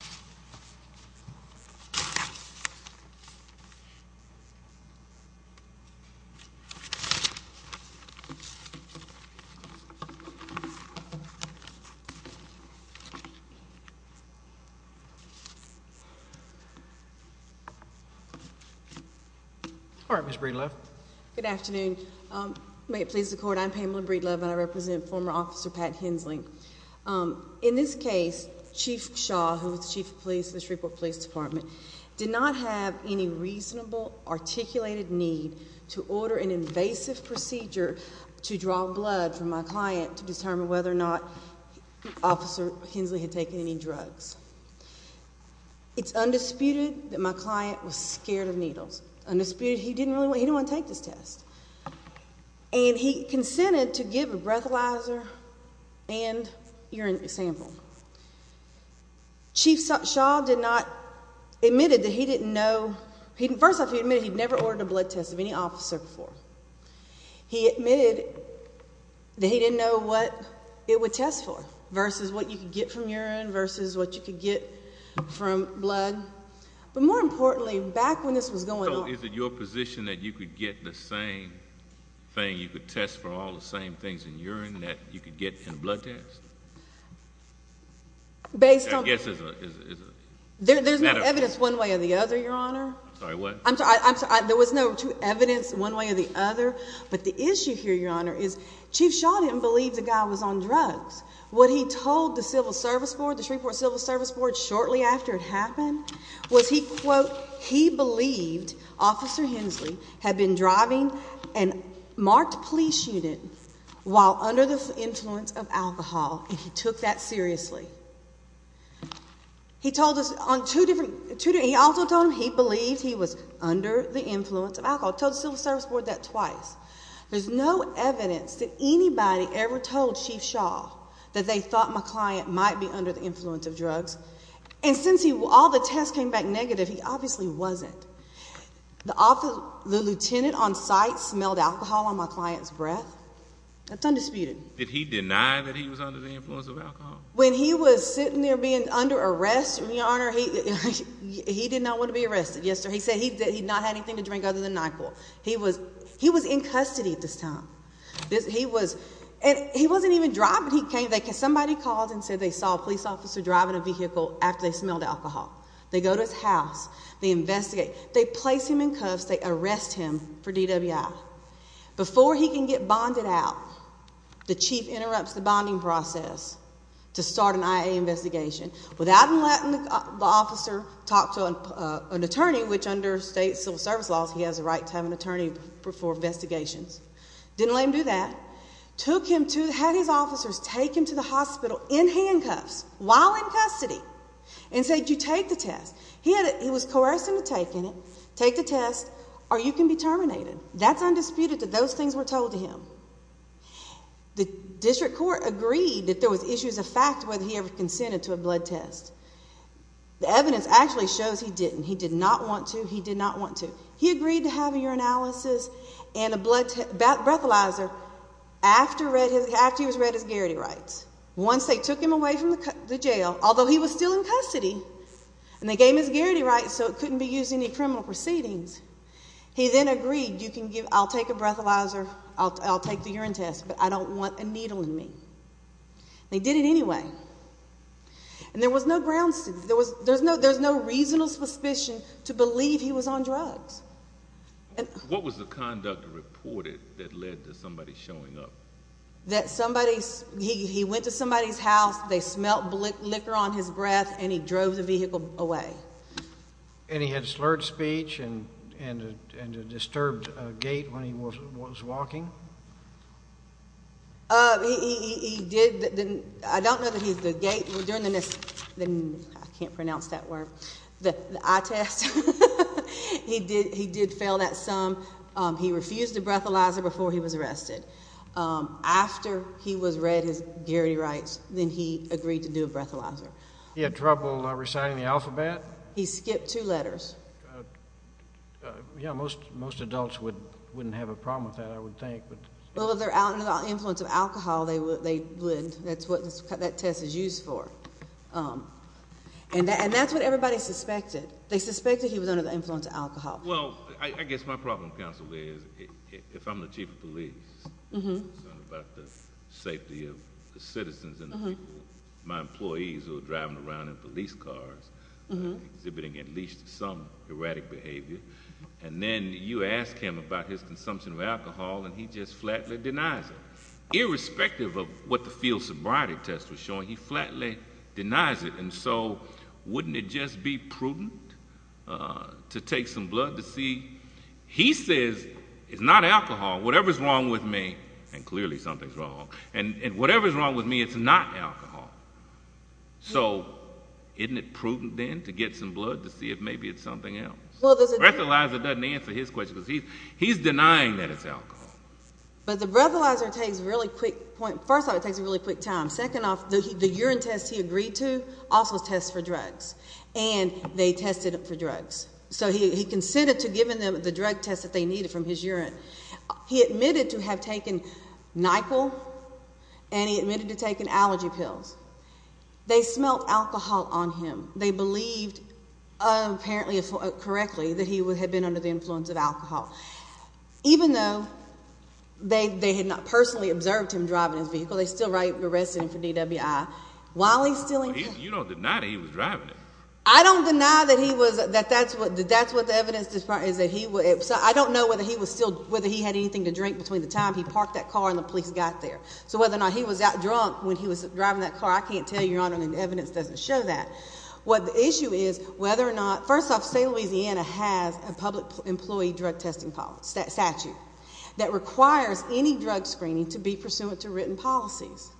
Pamela Breedlove Good afternoon. May it please the court, I'm Pamela Breedlove and I represent former officer Pat Hensley. In this case, Chief Shaw, who was chief of police in the Shreveport Police Department, did not have any reasonable, articulated need to order an invasive procedure to draw blood from my client to determine whether or not Officer Hensley had taken any drugs. It's undisputed that my client was scared of needles. Undisputed. He didn't want to take this test. And he consented to give a breathalyzer and urine sample. Chief Shaw did not, admitted that he didn't know, first off he admitted he'd never ordered a blood test of any officer before. He admitted that he didn't know what it would test for, versus what you could get from urine, versus what you could get from blood. But more importantly, back when this was going on... So is it your position that you could get the same thing, you could test for all the same things in urine that you could get in a blood test? Based on... I guess it's a... There's no evidence one way or the other, Your Honor. Sorry, what? I'm sorry, there was no true evidence one way or the other. But the issue here, Your Honor, is Chief Shaw didn't believe the guy was on drugs. What he told the Civil Service Board, the Shreveport Civil Service Board, shortly after it happened, was he, quote, he believed Officer Hensley had been driving a marked police unit while under the influence of alcohol. And he took that seriously. He told us on two different... He also told them he believed he was under the influence of alcohol. He told the Civil Service Board that twice. There's no evidence that anybody ever told Chief Shaw that they thought my client might be under the influence of drugs. And since all the tests came back negative, he obviously wasn't. The lieutenant on site smelled alcohol on my client's breath. That's undisputed. Did he deny that he was under the influence of alcohol? When he was sitting there being under arrest, Your Honor, he did not want to be arrested. He said he did not have anything to drink other than alcohol. He was in custody at this time. He wasn't even driving. Somebody called and said they saw a police officer driving a vehicle after they smelled alcohol. They go to his house. They investigate. They place him in cuffs. They arrest him for DWI. Before he can get bonded out, the chief interrupts the bonding process to start an IA investigation. Without him letting the officer talk to an attorney, which under state civil service laws, he has a right to have an attorney for investigations. Didn't let him do that. Took him to...had his officers take him to the hospital in handcuffs while in custody and said, you take the test. He was coerced into taking it. Take the test or you can be terminated. That's undisputed that those things were told to him. The district court agreed that there was issues of fact whether he ever consented to a blood test. The evidence actually shows he didn't. He did not want to. He did not want to. He agreed to have a urinalysis and a breathalyzer after he was read his garrity rights. Once they took him away from the jail, although he was still in custody, and they gave him his garrity rights so it couldn't be used in any criminal proceedings, he then agreed, I'll take a breathalyzer, I'll take the urine test, but I don't want a needle in me. They did it anyway. And there was no grounds to...there's no reasonable suspicion to believe he was on drugs. What was the conduct reported that led to somebody showing up? That somebody...he went to somebody's house, they smelt liquor on his breath, and he drove the vehicle away. And he had slurred speech and a disturbed gait when he was walking? He did. I don't know that he's the gait. I can't pronounce that word. The eye test, he did fail that some. He refused the breathalyzer before he was arrested. After he was read his garrity rights, then he agreed to do a breathalyzer. He had trouble reciting the alphabet? He skipped two letters. Yeah, most adults wouldn't have a problem with that, I would think. Well, if they're under the influence of alcohol, they would. That's what that test is used for. And that's what everybody suspected. They suspected he was under the influence of alcohol. Well, I guess my problem, counsel, is if I'm the chief of police, I'm concerned about the safety of the citizens and my employees who are driving around in police cars, exhibiting at least some erratic behavior, and then you ask him about his consumption of alcohol, and he just flatly denies it. Irrespective of what the field sobriety test was showing, he flatly denies it. And so wouldn't it just be prudent to take some blood to see? He says, it's not alcohol, whatever's wrong with me, and clearly something's wrong, and whatever's wrong with me, it's not alcohol. So isn't it prudent then to get some blood to see if maybe it's something else? Breathalyzer doesn't answer his question because he's denying that it's alcohol. But the breathalyzer takes a really quick point. First off, it takes a really quick time. Second off, the urine test he agreed to also tests for drugs, and they tested it for drugs. So he consented to giving them the drug test that they needed from his urine. He admitted to have taken NyQuil, and he admitted to taking allergy pills. They smelled alcohol on him. They believed, apparently correctly, that he had been under the influence of alcohol. Even though they had not personally observed him driving his vehicle, they still arrested him for DWI. While he's still in there. You don't deny that he was driving it. I don't deny that that's what the evidence is. I don't know whether he had anything to drink between the time he parked that car and the police got there. So whether or not he was out drunk when he was driving that car, I can't tell you, Your Honor, and the evidence doesn't show that. The issue is whether or not, first off, state of Louisiana has a public employee drug testing statute that requires any drug screening to be pursuant to written policies.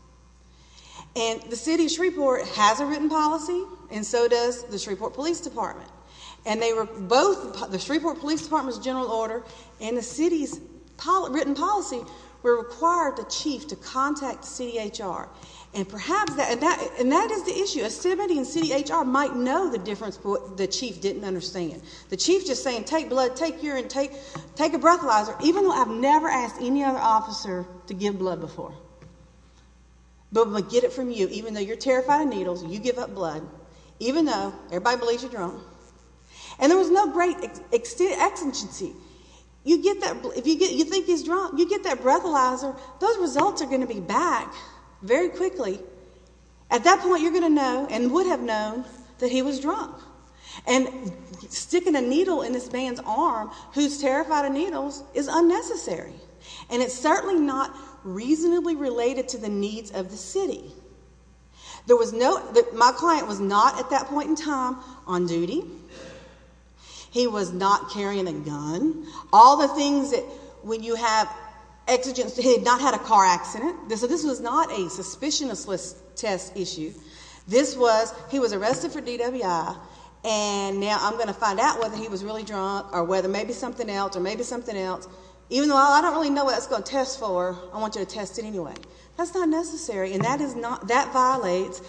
And the city of Shreveport has a written policy, and so does the Shreveport Police Department. And both the Shreveport Police Department's general order and the city's written policy require the chief to contact the city HR. And that is the issue. A city employee in city HR might know the difference that the chief didn't understand. The chief is just saying, take blood, take urine, take a breathalyzer, even though I've never asked any other officer to give blood before, but get it from you, even though you're terrified of needles, you give up blood, even though everybody believes you're drunk. And there was no great exigency. If you think he's drunk, you get that breathalyzer, those results are going to be back very quickly. At that point, you're going to know and would have known that he was drunk. And sticking a needle in this man's arm who's terrified of needles is unnecessary. And it's certainly not reasonably related to the needs of the city. My client was not at that point in time on duty. He was not carrying a gun. All the things that when you have exigency, he had not had a car accident. So this was not a suspicionless test issue. This was he was arrested for DWI, and now I'm going to find out whether he was really drunk or whether maybe something else or maybe something else. Even though I don't really know what it's going to test for, I want you to test it anyway. That's not necessary, and that violates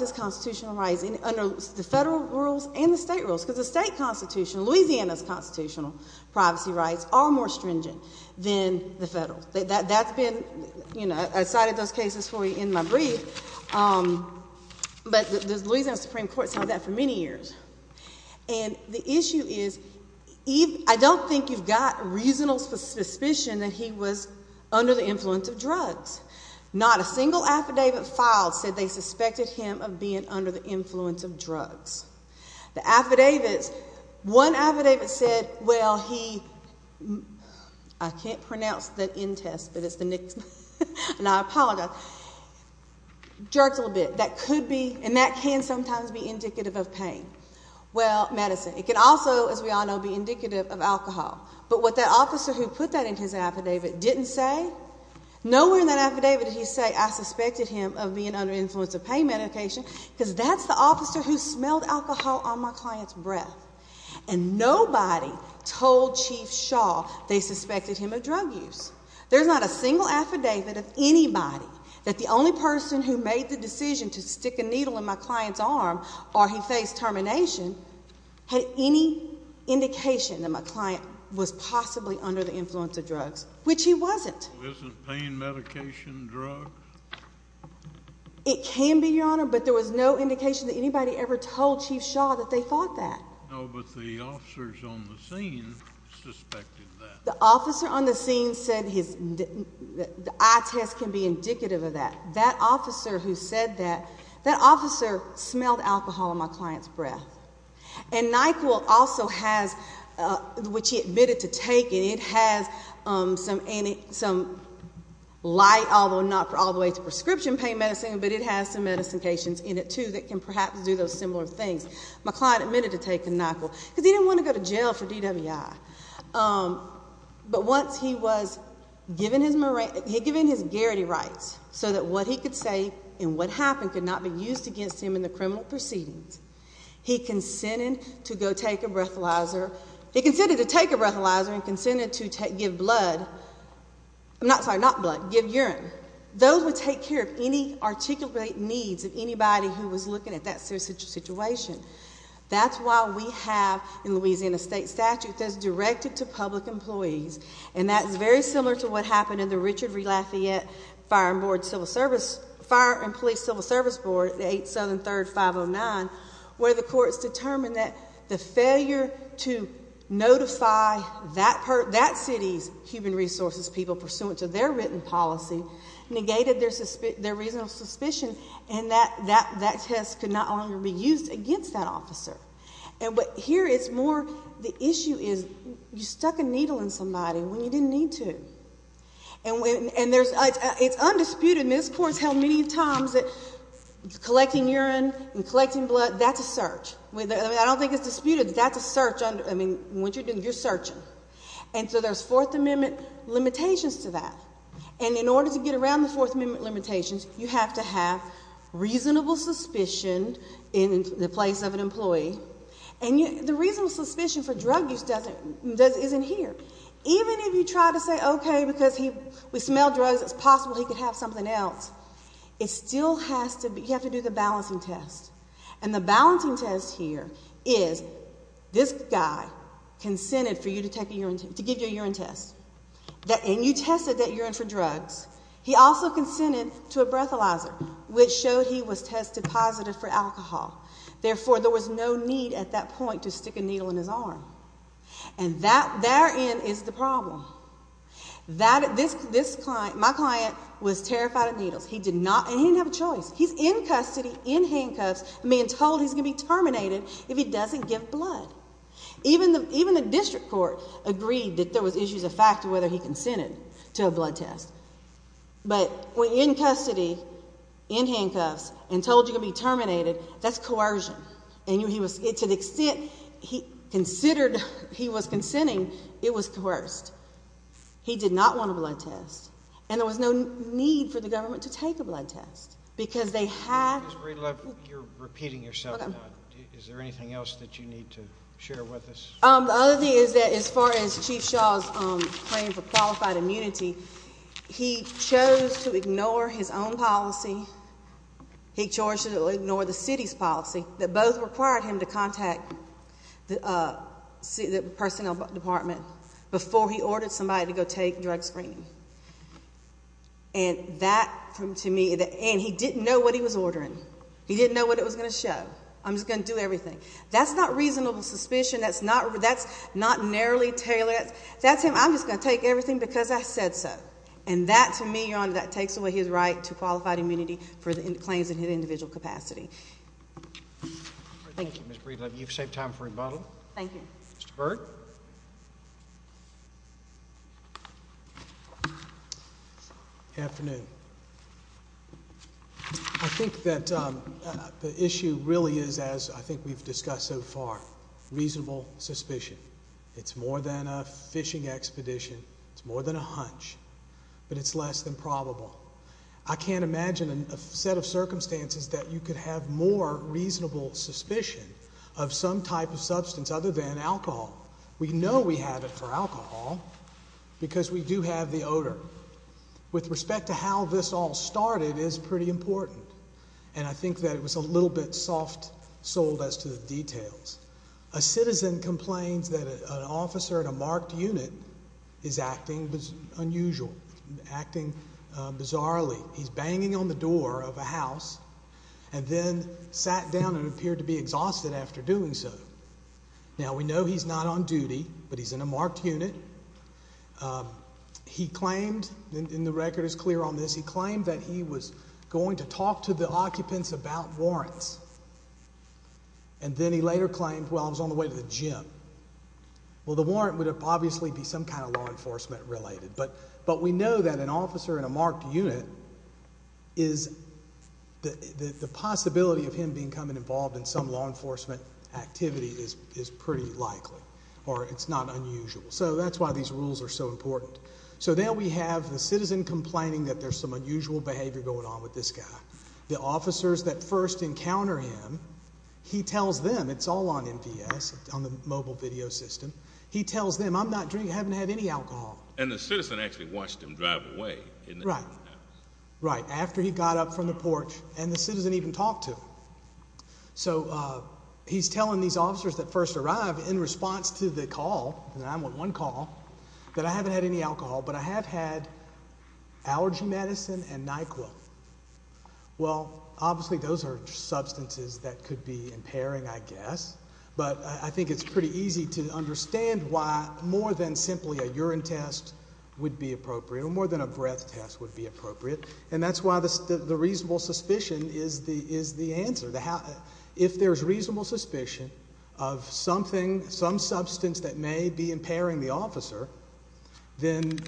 his constitutional rights under the federal rules and the state rules because the state constitution, Louisiana's constitutional privacy rights, are more stringent than the federal. That's been, you know, I cited those cases for you in my brief. But the Louisiana Supreme Court has held that for many years. And the issue is I don't think you've got a reasonable suspicion that he was under the influence of drugs. Not a single affidavit filed said they suspected him of being under the influence of drugs. The affidavits, one affidavit said, well, he, I can't pronounce the N test, but it's the Nix, and I apologize. Jerks a little bit. That could be, and that can sometimes be indicative of pain. Well, medicine. It can also, as we all know, be indicative of alcohol. But what that officer who put that in his affidavit didn't say, nowhere in that affidavit did he say, I suspected him of being under the influence of pain medication because that's the officer who smelled alcohol on my client's breath. And nobody told Chief Shaw they suspected him of drug use. There's not a single affidavit of anybody that the only person who made the decision to stick a needle in my client's arm or he faced termination had any indication that my client was possibly under the influence of drugs, which he wasn't. Isn't pain medication drugs? It can be, Your Honor, but there was no indication that anybody ever told Chief Shaw that they thought that. No, but the officers on the scene suspected that. The officer on the scene said his eye test can be indicative of that. That officer who said that, that officer smelled alcohol on my client's breath. And Nyquil also has, which he admitted to taking, it has some light, although not all the way to prescription pain medicine, but it has some medications in it, too, that can perhaps do those similar things. My client admitted to taking Nyquil because he didn't want to go to jail for DWI. But once he was given his guarantee rights so that what he could say and what happened could not be used against him in the criminal proceedings, he consented to go take a breathalyzer, he consented to take a breathalyzer and consented to give blood, I'm not sorry, not blood, give urine. Those would take care of any articulate needs of anybody who was looking at that situation. That's why we have in Louisiana state statute that's directed to public employees, and that's very similar to what happened in the Richard V. Lafayette Fire and Police Civil Service Board, the 8th, Southern, 3rd, 509, where the courts determined that the failure to notify that city's human resources people pursuant to their written policy negated their reasonable suspicion and that test could not longer be used against that officer. And what here is more, the issue is you stuck a needle in somebody when you didn't need to. And there's, it's undisputed, and this court's held many times that collecting urine and collecting blood, that's a search. I don't think it's disputed, but that's a search. I mean, what you're doing, you're searching. And so there's Fourth Amendment limitations to that. And in order to get around the Fourth Amendment limitations, you have to have reasonable suspicion in the place of an employee. And the reasonable suspicion for drug use doesn't, isn't here. Even if you try to say, okay, because he would smell drugs, it's possible he could have something else, it still has to be, you have to do the balancing test. And the balancing test here is this guy consented for you to take a urine, to give you a urine test. And you tested that urine for drugs. He also consented to a breathalyzer, which showed he was tested positive for alcohol. Therefore, there was no need at that point to stick a needle in his arm. And that, therein, is the problem. That, this client, my client was terrified of needles. He did not, he didn't have a choice. He's in custody, in handcuffs, being told he's going to be terminated if he doesn't give blood. Even the district court agreed that there was issues of fact of whether he consented to a blood test. But in custody, in handcuffs, and told you you're going to be terminated, that's coercion. And he was, to the extent he considered he was consenting, it was coerced. He did not want a blood test. And there was no need for the government to take a blood test. Because they had... Ms. Breedlove, you're repeating yourself now. Is there anything else that you need to share with us? The other thing is that as far as Chief Shaw's claim for qualified immunity, he chose to ignore his own policy. He chose to ignore the city's policy that both required him to contact the personnel department before he ordered somebody to go take drug screening. And that, to me, and he didn't know what he was ordering. He didn't know what it was going to show. I'm just going to do everything. That's not reasonable suspicion. That's not narrowly tailored. That's him, I'm just going to take everything because I said so. And that, to me, Your Honor, that takes away his right to qualified immunity for the claims in his individual capacity. Thank you, Ms. Breedlove. You've saved time for rebuttal. Thank you. Mr. Berg? Good afternoon. I think that the issue really is, as I think we've discussed so far, reasonable suspicion. It's more than a fishing expedition. It's more than a hunch. But it's less than probable. I can't imagine a set of circumstances that you could have more reasonable suspicion of some type of substance other than alcohol. We know we have it for alcohol because we do have the odor. With respect to how this all started is pretty important. And I think that it was a little bit soft-souled as to the details. A citizen complains that an officer in a marked unit is acting unusual, acting bizarrely. He's banging on the door of a house and then sat down and appeared to be exhausted after doing so. Now, we know he's not on duty, but he's in a marked unit. He claimed, and the record is clear on this, he claimed that he was going to talk to the occupants about warrants. And then he later claimed, well, I was on the way to the gym. Well, the warrant would obviously be some kind of law enforcement related. But we know that an officer in a marked unit is, the possibility of him becoming involved in some law enforcement activity is pretty likely. Or it's not unusual. So that's why these rules are so important. So then we have the citizen complaining that there's some unusual behavior going on with this guy. The officers that first encounter him, he tells them, it's all on MPS, on the mobile video system. He tells them, I'm not drinking, I haven't had any alcohol. And the citizen actually watched him drive away. Right. Right, after he got up from the porch and the citizen even talked to him. So he's telling these officers that first arrive in response to the call, and I'm on one call, that I haven't had any alcohol, but I have had allergy medicine and NyQuil. Well, obviously those are substances that could be impairing, I guess. But I think it's pretty easy to understand why more than simply a urine test would be appropriate, or more than a breath test would be appropriate. And that's why the reasonable suspicion is the answer. If there's reasonable suspicion of something, some substance that may be impairing the officer, then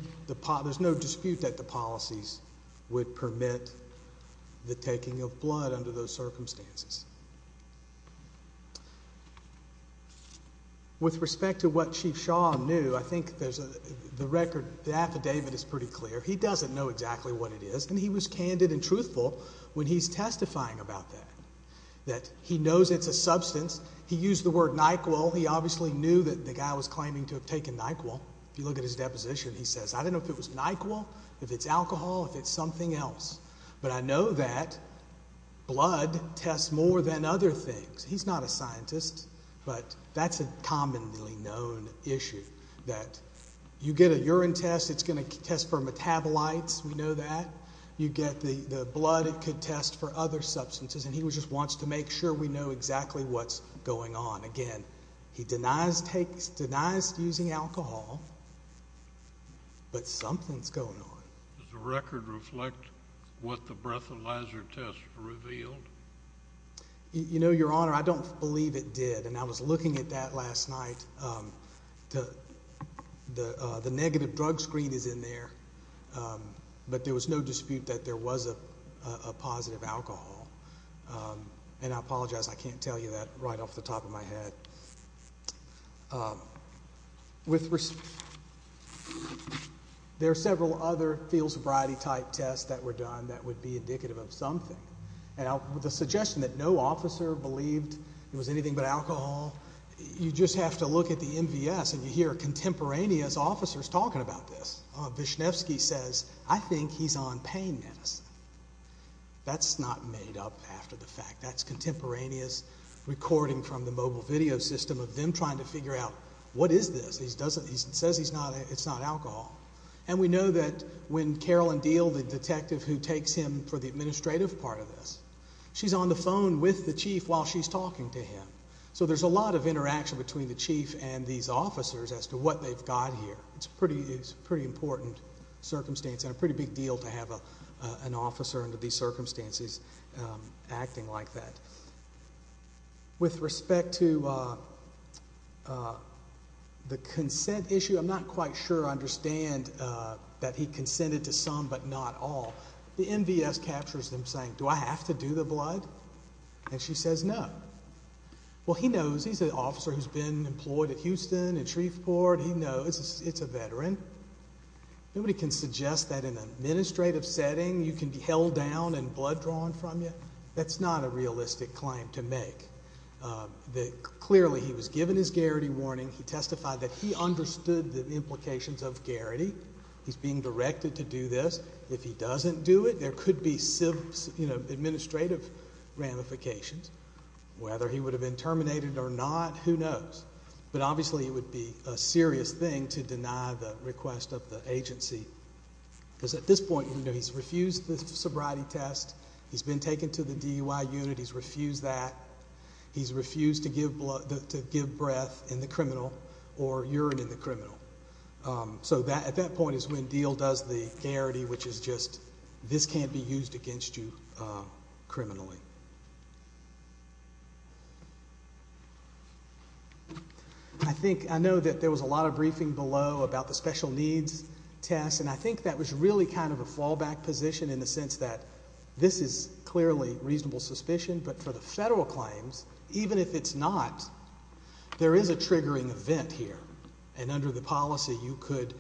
there's no dispute that the policies would permit the taking of blood under those circumstances. With respect to what Chief Shaw knew, I think the record, the affidavit is pretty clear. He doesn't know exactly what it is, and he was candid and truthful when he's testifying about that. That he knows it's a substance. He used the word NyQuil. He obviously knew that the guy was claiming to have taken NyQuil. If you look at his deposition, he says, I don't know if it was NyQuil, if it's alcohol, if it's something else. But I know that blood tests more than other things. He's not a scientist, but that's a commonly known issue. You get a urine test, it's going to test for metabolites, we know that. You get the blood, it could test for other substances. And he just wants to make sure we know exactly what's going on. Again, he denies using alcohol, but something's going on. Does the record reflect what the breathalyzer test revealed? You know, Your Honor, I don't believe it did. And I was looking at that last night. The negative drug screen is in there, but there was no dispute that there was a positive alcohol. And I apologize, I can't tell you that right off the top of my head. There are several other field sobriety type tests that were done that would be indicative of something. With the suggestion that no officer believed it was anything but alcohol, you just have to look at the MVS and you hear contemporaneous officers talking about this. Vishnevsky says, I think he's on pain medicine. That's not made up after the fact. That's contemporaneous recording from the mobile video system of them trying to figure out what is this. He says it's not alcohol. And we know that when Carolyn Deal, the detective who takes him for the administrative part of this, she's on the phone with the chief while she's talking to him. So there's a lot of interaction between the chief and these officers as to what they've got here. It's a pretty important circumstance and a pretty big deal to have an officer under these circumstances acting like that. With respect to the consent issue, I'm not quite sure I understand that he consented to some but not all. The MVS captures him saying, do I have to do the blood? And she says no. Well, he knows. He's an officer who's been employed at Houston and Shreveport. He knows. It's a veteran. Nobody can suggest that in an administrative setting you can be held down and blood drawn from you. That's not a realistic claim to make. Clearly he was given his garrity warning. He testified that he understood the implications of garrity. He's being directed to do this. If he doesn't do it, there could be administrative ramifications. Whether he would have been terminated or not, who knows. But obviously it would be a serious thing to deny the request of the agency. Because at this point, he's refused the sobriety test. He's been taken to the DUI unit. He's refused that. He's refused to give breath in the criminal or urine in the criminal. So at that point is when Diehl does the garrity, which is just this can't be used against you criminally. I know that there was a lot of briefing below about the special needs test, and I think that was really kind of a fallback position in the sense that this is clearly reasonable suspicion. But for the federal claims, even if it's not, there is a triggering event here. And under the policy, you could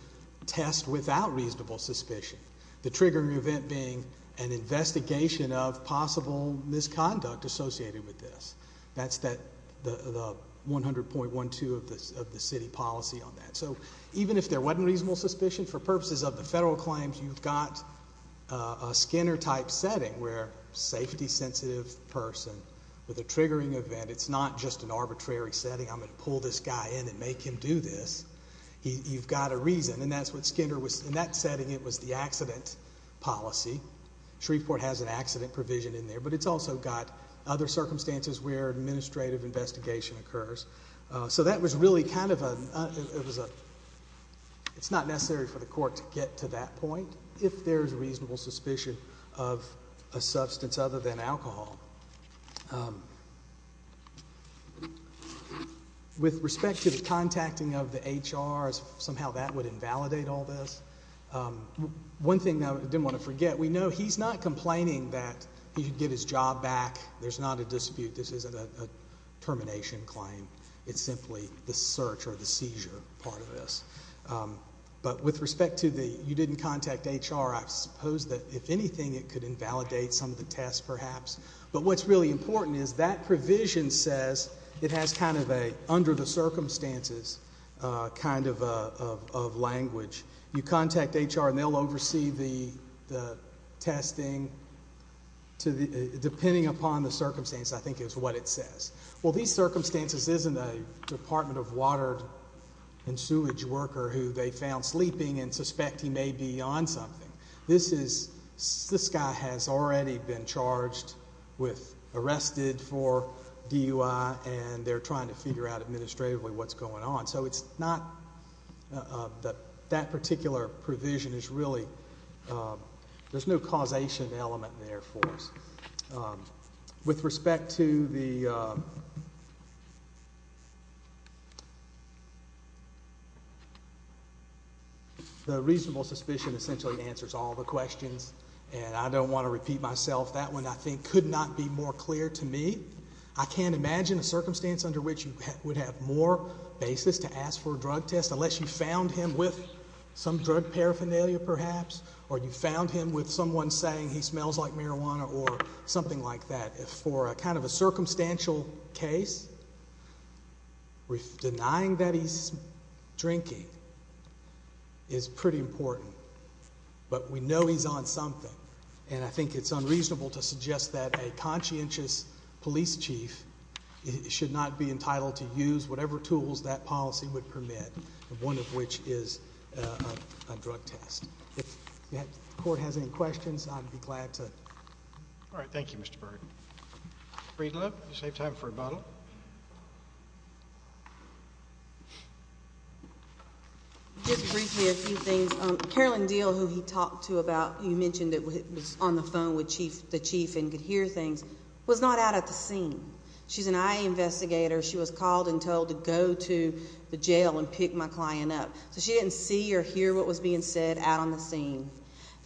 test without reasonable suspicion. The triggering event being an investigation of possible misconduct associated with this. That's the 100.12 of the city policy on that. So even if there wasn't reasonable suspicion, for purposes of the federal claims, you've got a Skinner-type setting where safety-sensitive person with a triggering event. It's not just an arbitrary setting. I'm going to pull this guy in and make him do this. You've got a reason, and that's what Skinner was. In that setting, it was the accident policy. Shreveport has an accident provision in there, but it's also got other circumstances where administrative investigation occurs. So that was really kind of a ñ it's not necessary for the court to get to that point if there's reasonable suspicion of a substance other than alcohol. With respect to the contacting of the HR, somehow that would invalidate all this. One thing I didn't want to forget, we know he's not complaining that he could get his job back. There's not a dispute. This isn't a termination claim. It's simply the search or the seizure part of this. But with respect to the you didn't contact HR, I suppose that if anything it could invalidate some of the tests perhaps. But what's really important is that provision says it has kind of a under-the-circumstances kind of language. You contact HR and they'll oversee the testing, depending upon the circumstance I think is what it says. Well, these circumstances isn't a Department of Water and Sewage worker who they found sleeping and suspect he may be on something. This guy has already been charged with arrested for DUI, and they're trying to figure out administratively what's going on. So it's not that that particular provision is really there's no causation element there for us. With respect to the reasonable suspicion essentially answers all the questions, and I don't want to repeat myself. That one I think could not be more clear to me. I can't imagine a circumstance under which you would have more basis to ask for a drug test unless you found him with some drug paraphernalia perhaps, or you found him with someone saying he smells like marijuana or something like that. For kind of a circumstantial case, denying that he's drinking is pretty important. But we know he's on something, and I think it's unreasonable to suggest that a conscientious police chief should not be entitled to use whatever tools that policy would permit, one of which is a drug test. If the court has any questions, I'd be glad to. All right, thank you, Mr. Byrd. Breedlove, you saved time for a bottle. Just briefly a few things. Carolyn Deal, who he talked to about, you mentioned that was on the phone with the chief and could hear things, was not out at the scene. She's an IA investigator. She was called and told to go to the jail and pick my client up. So she didn't see or hear what was being said out on the scene.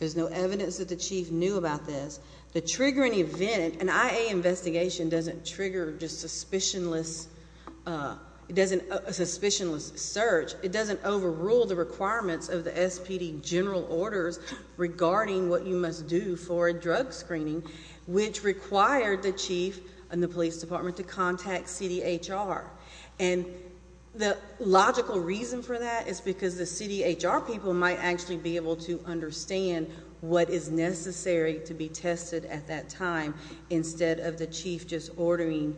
There's no evidence that the chief knew about this. To trigger an event, an IA investigation doesn't trigger just a suspicionless search. It doesn't overrule the requirements of the SPD general orders regarding what you must do for a drug screening, which required the chief and the police department to contact CDHR. And the logical reason for that is because the CDHR people might actually be able to understand what is necessary to be tested at that time instead of the chief just ordering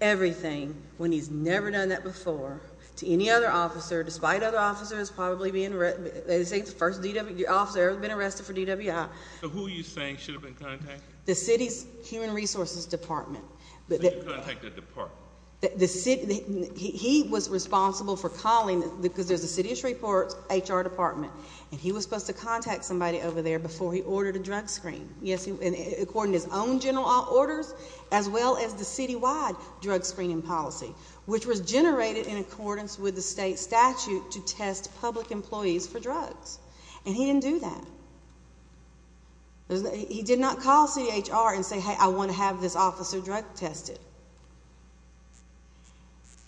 everything, when he's never done that before, to any other officer, despite other officers probably being arrested. They say the first officer ever been arrested for DWI. So who are you saying should have been contacted? The city's human resources department. So you contacted the department? He was responsible for calling, because there's a city-ish report, HR department. And he was supposed to contact somebody over there before he ordered a drug screen, according to his own general orders, as well as the city-wide drug screening policy, which was generated in accordance with the state statute to test public employees for drugs. And he didn't do that. He did not call CDHR and say, hey, I want to have this officer drug tested.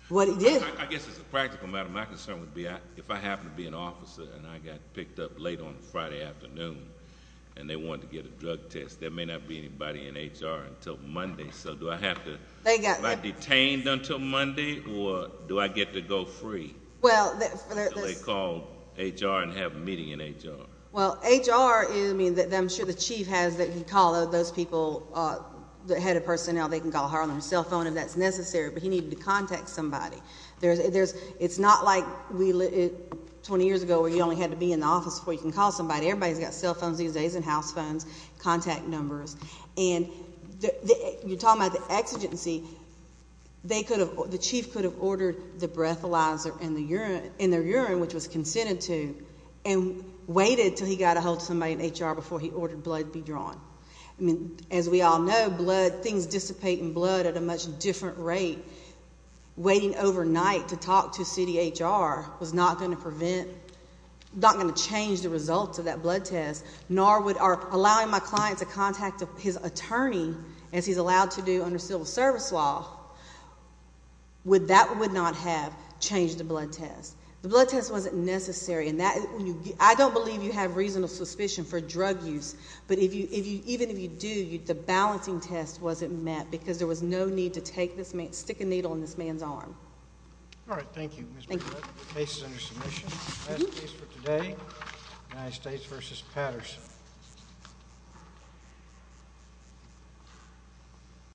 What he did. I guess as a practical matter, my concern would be if I happen to be an officer and I got picked up late on a Friday afternoon and they wanted to get a drug test, there may not be anybody in HR until Monday. So do I have to be detained until Monday, or do I get to go free? So they call HR and have a meeting in HR. Well, HR, I mean, I'm sure the chief has that he can call those people, the head of personnel, they can call her on her cell phone if that's necessary. But he needed to contact somebody. It's not like 20 years ago where you only had to be in the office before you can call somebody. Everybody's got cell phones these days and house phones, contact numbers. And you're talking about the exigency. The chief could have ordered the breathalyzer in their urine, which was consented to, and waited until he got a hold of somebody in HR before he ordered blood to be drawn. I mean, as we all know, blood, things dissipate in blood at a much different rate. Waiting overnight to talk to city HR was not going to prevent, not going to change the results of that blood test, nor would allowing my client to contact his attorney, as he's allowed to do under civil service law, that would not have changed the blood test. The blood test wasn't necessary. I don't believe you have reasonable suspicion for drug use, but even if you do, the balancing test wasn't met because there was no need to stick a needle in this man's arm. All right. Thank you. Thank you. The case is under submission. That's the case for today, United States v. Patterson.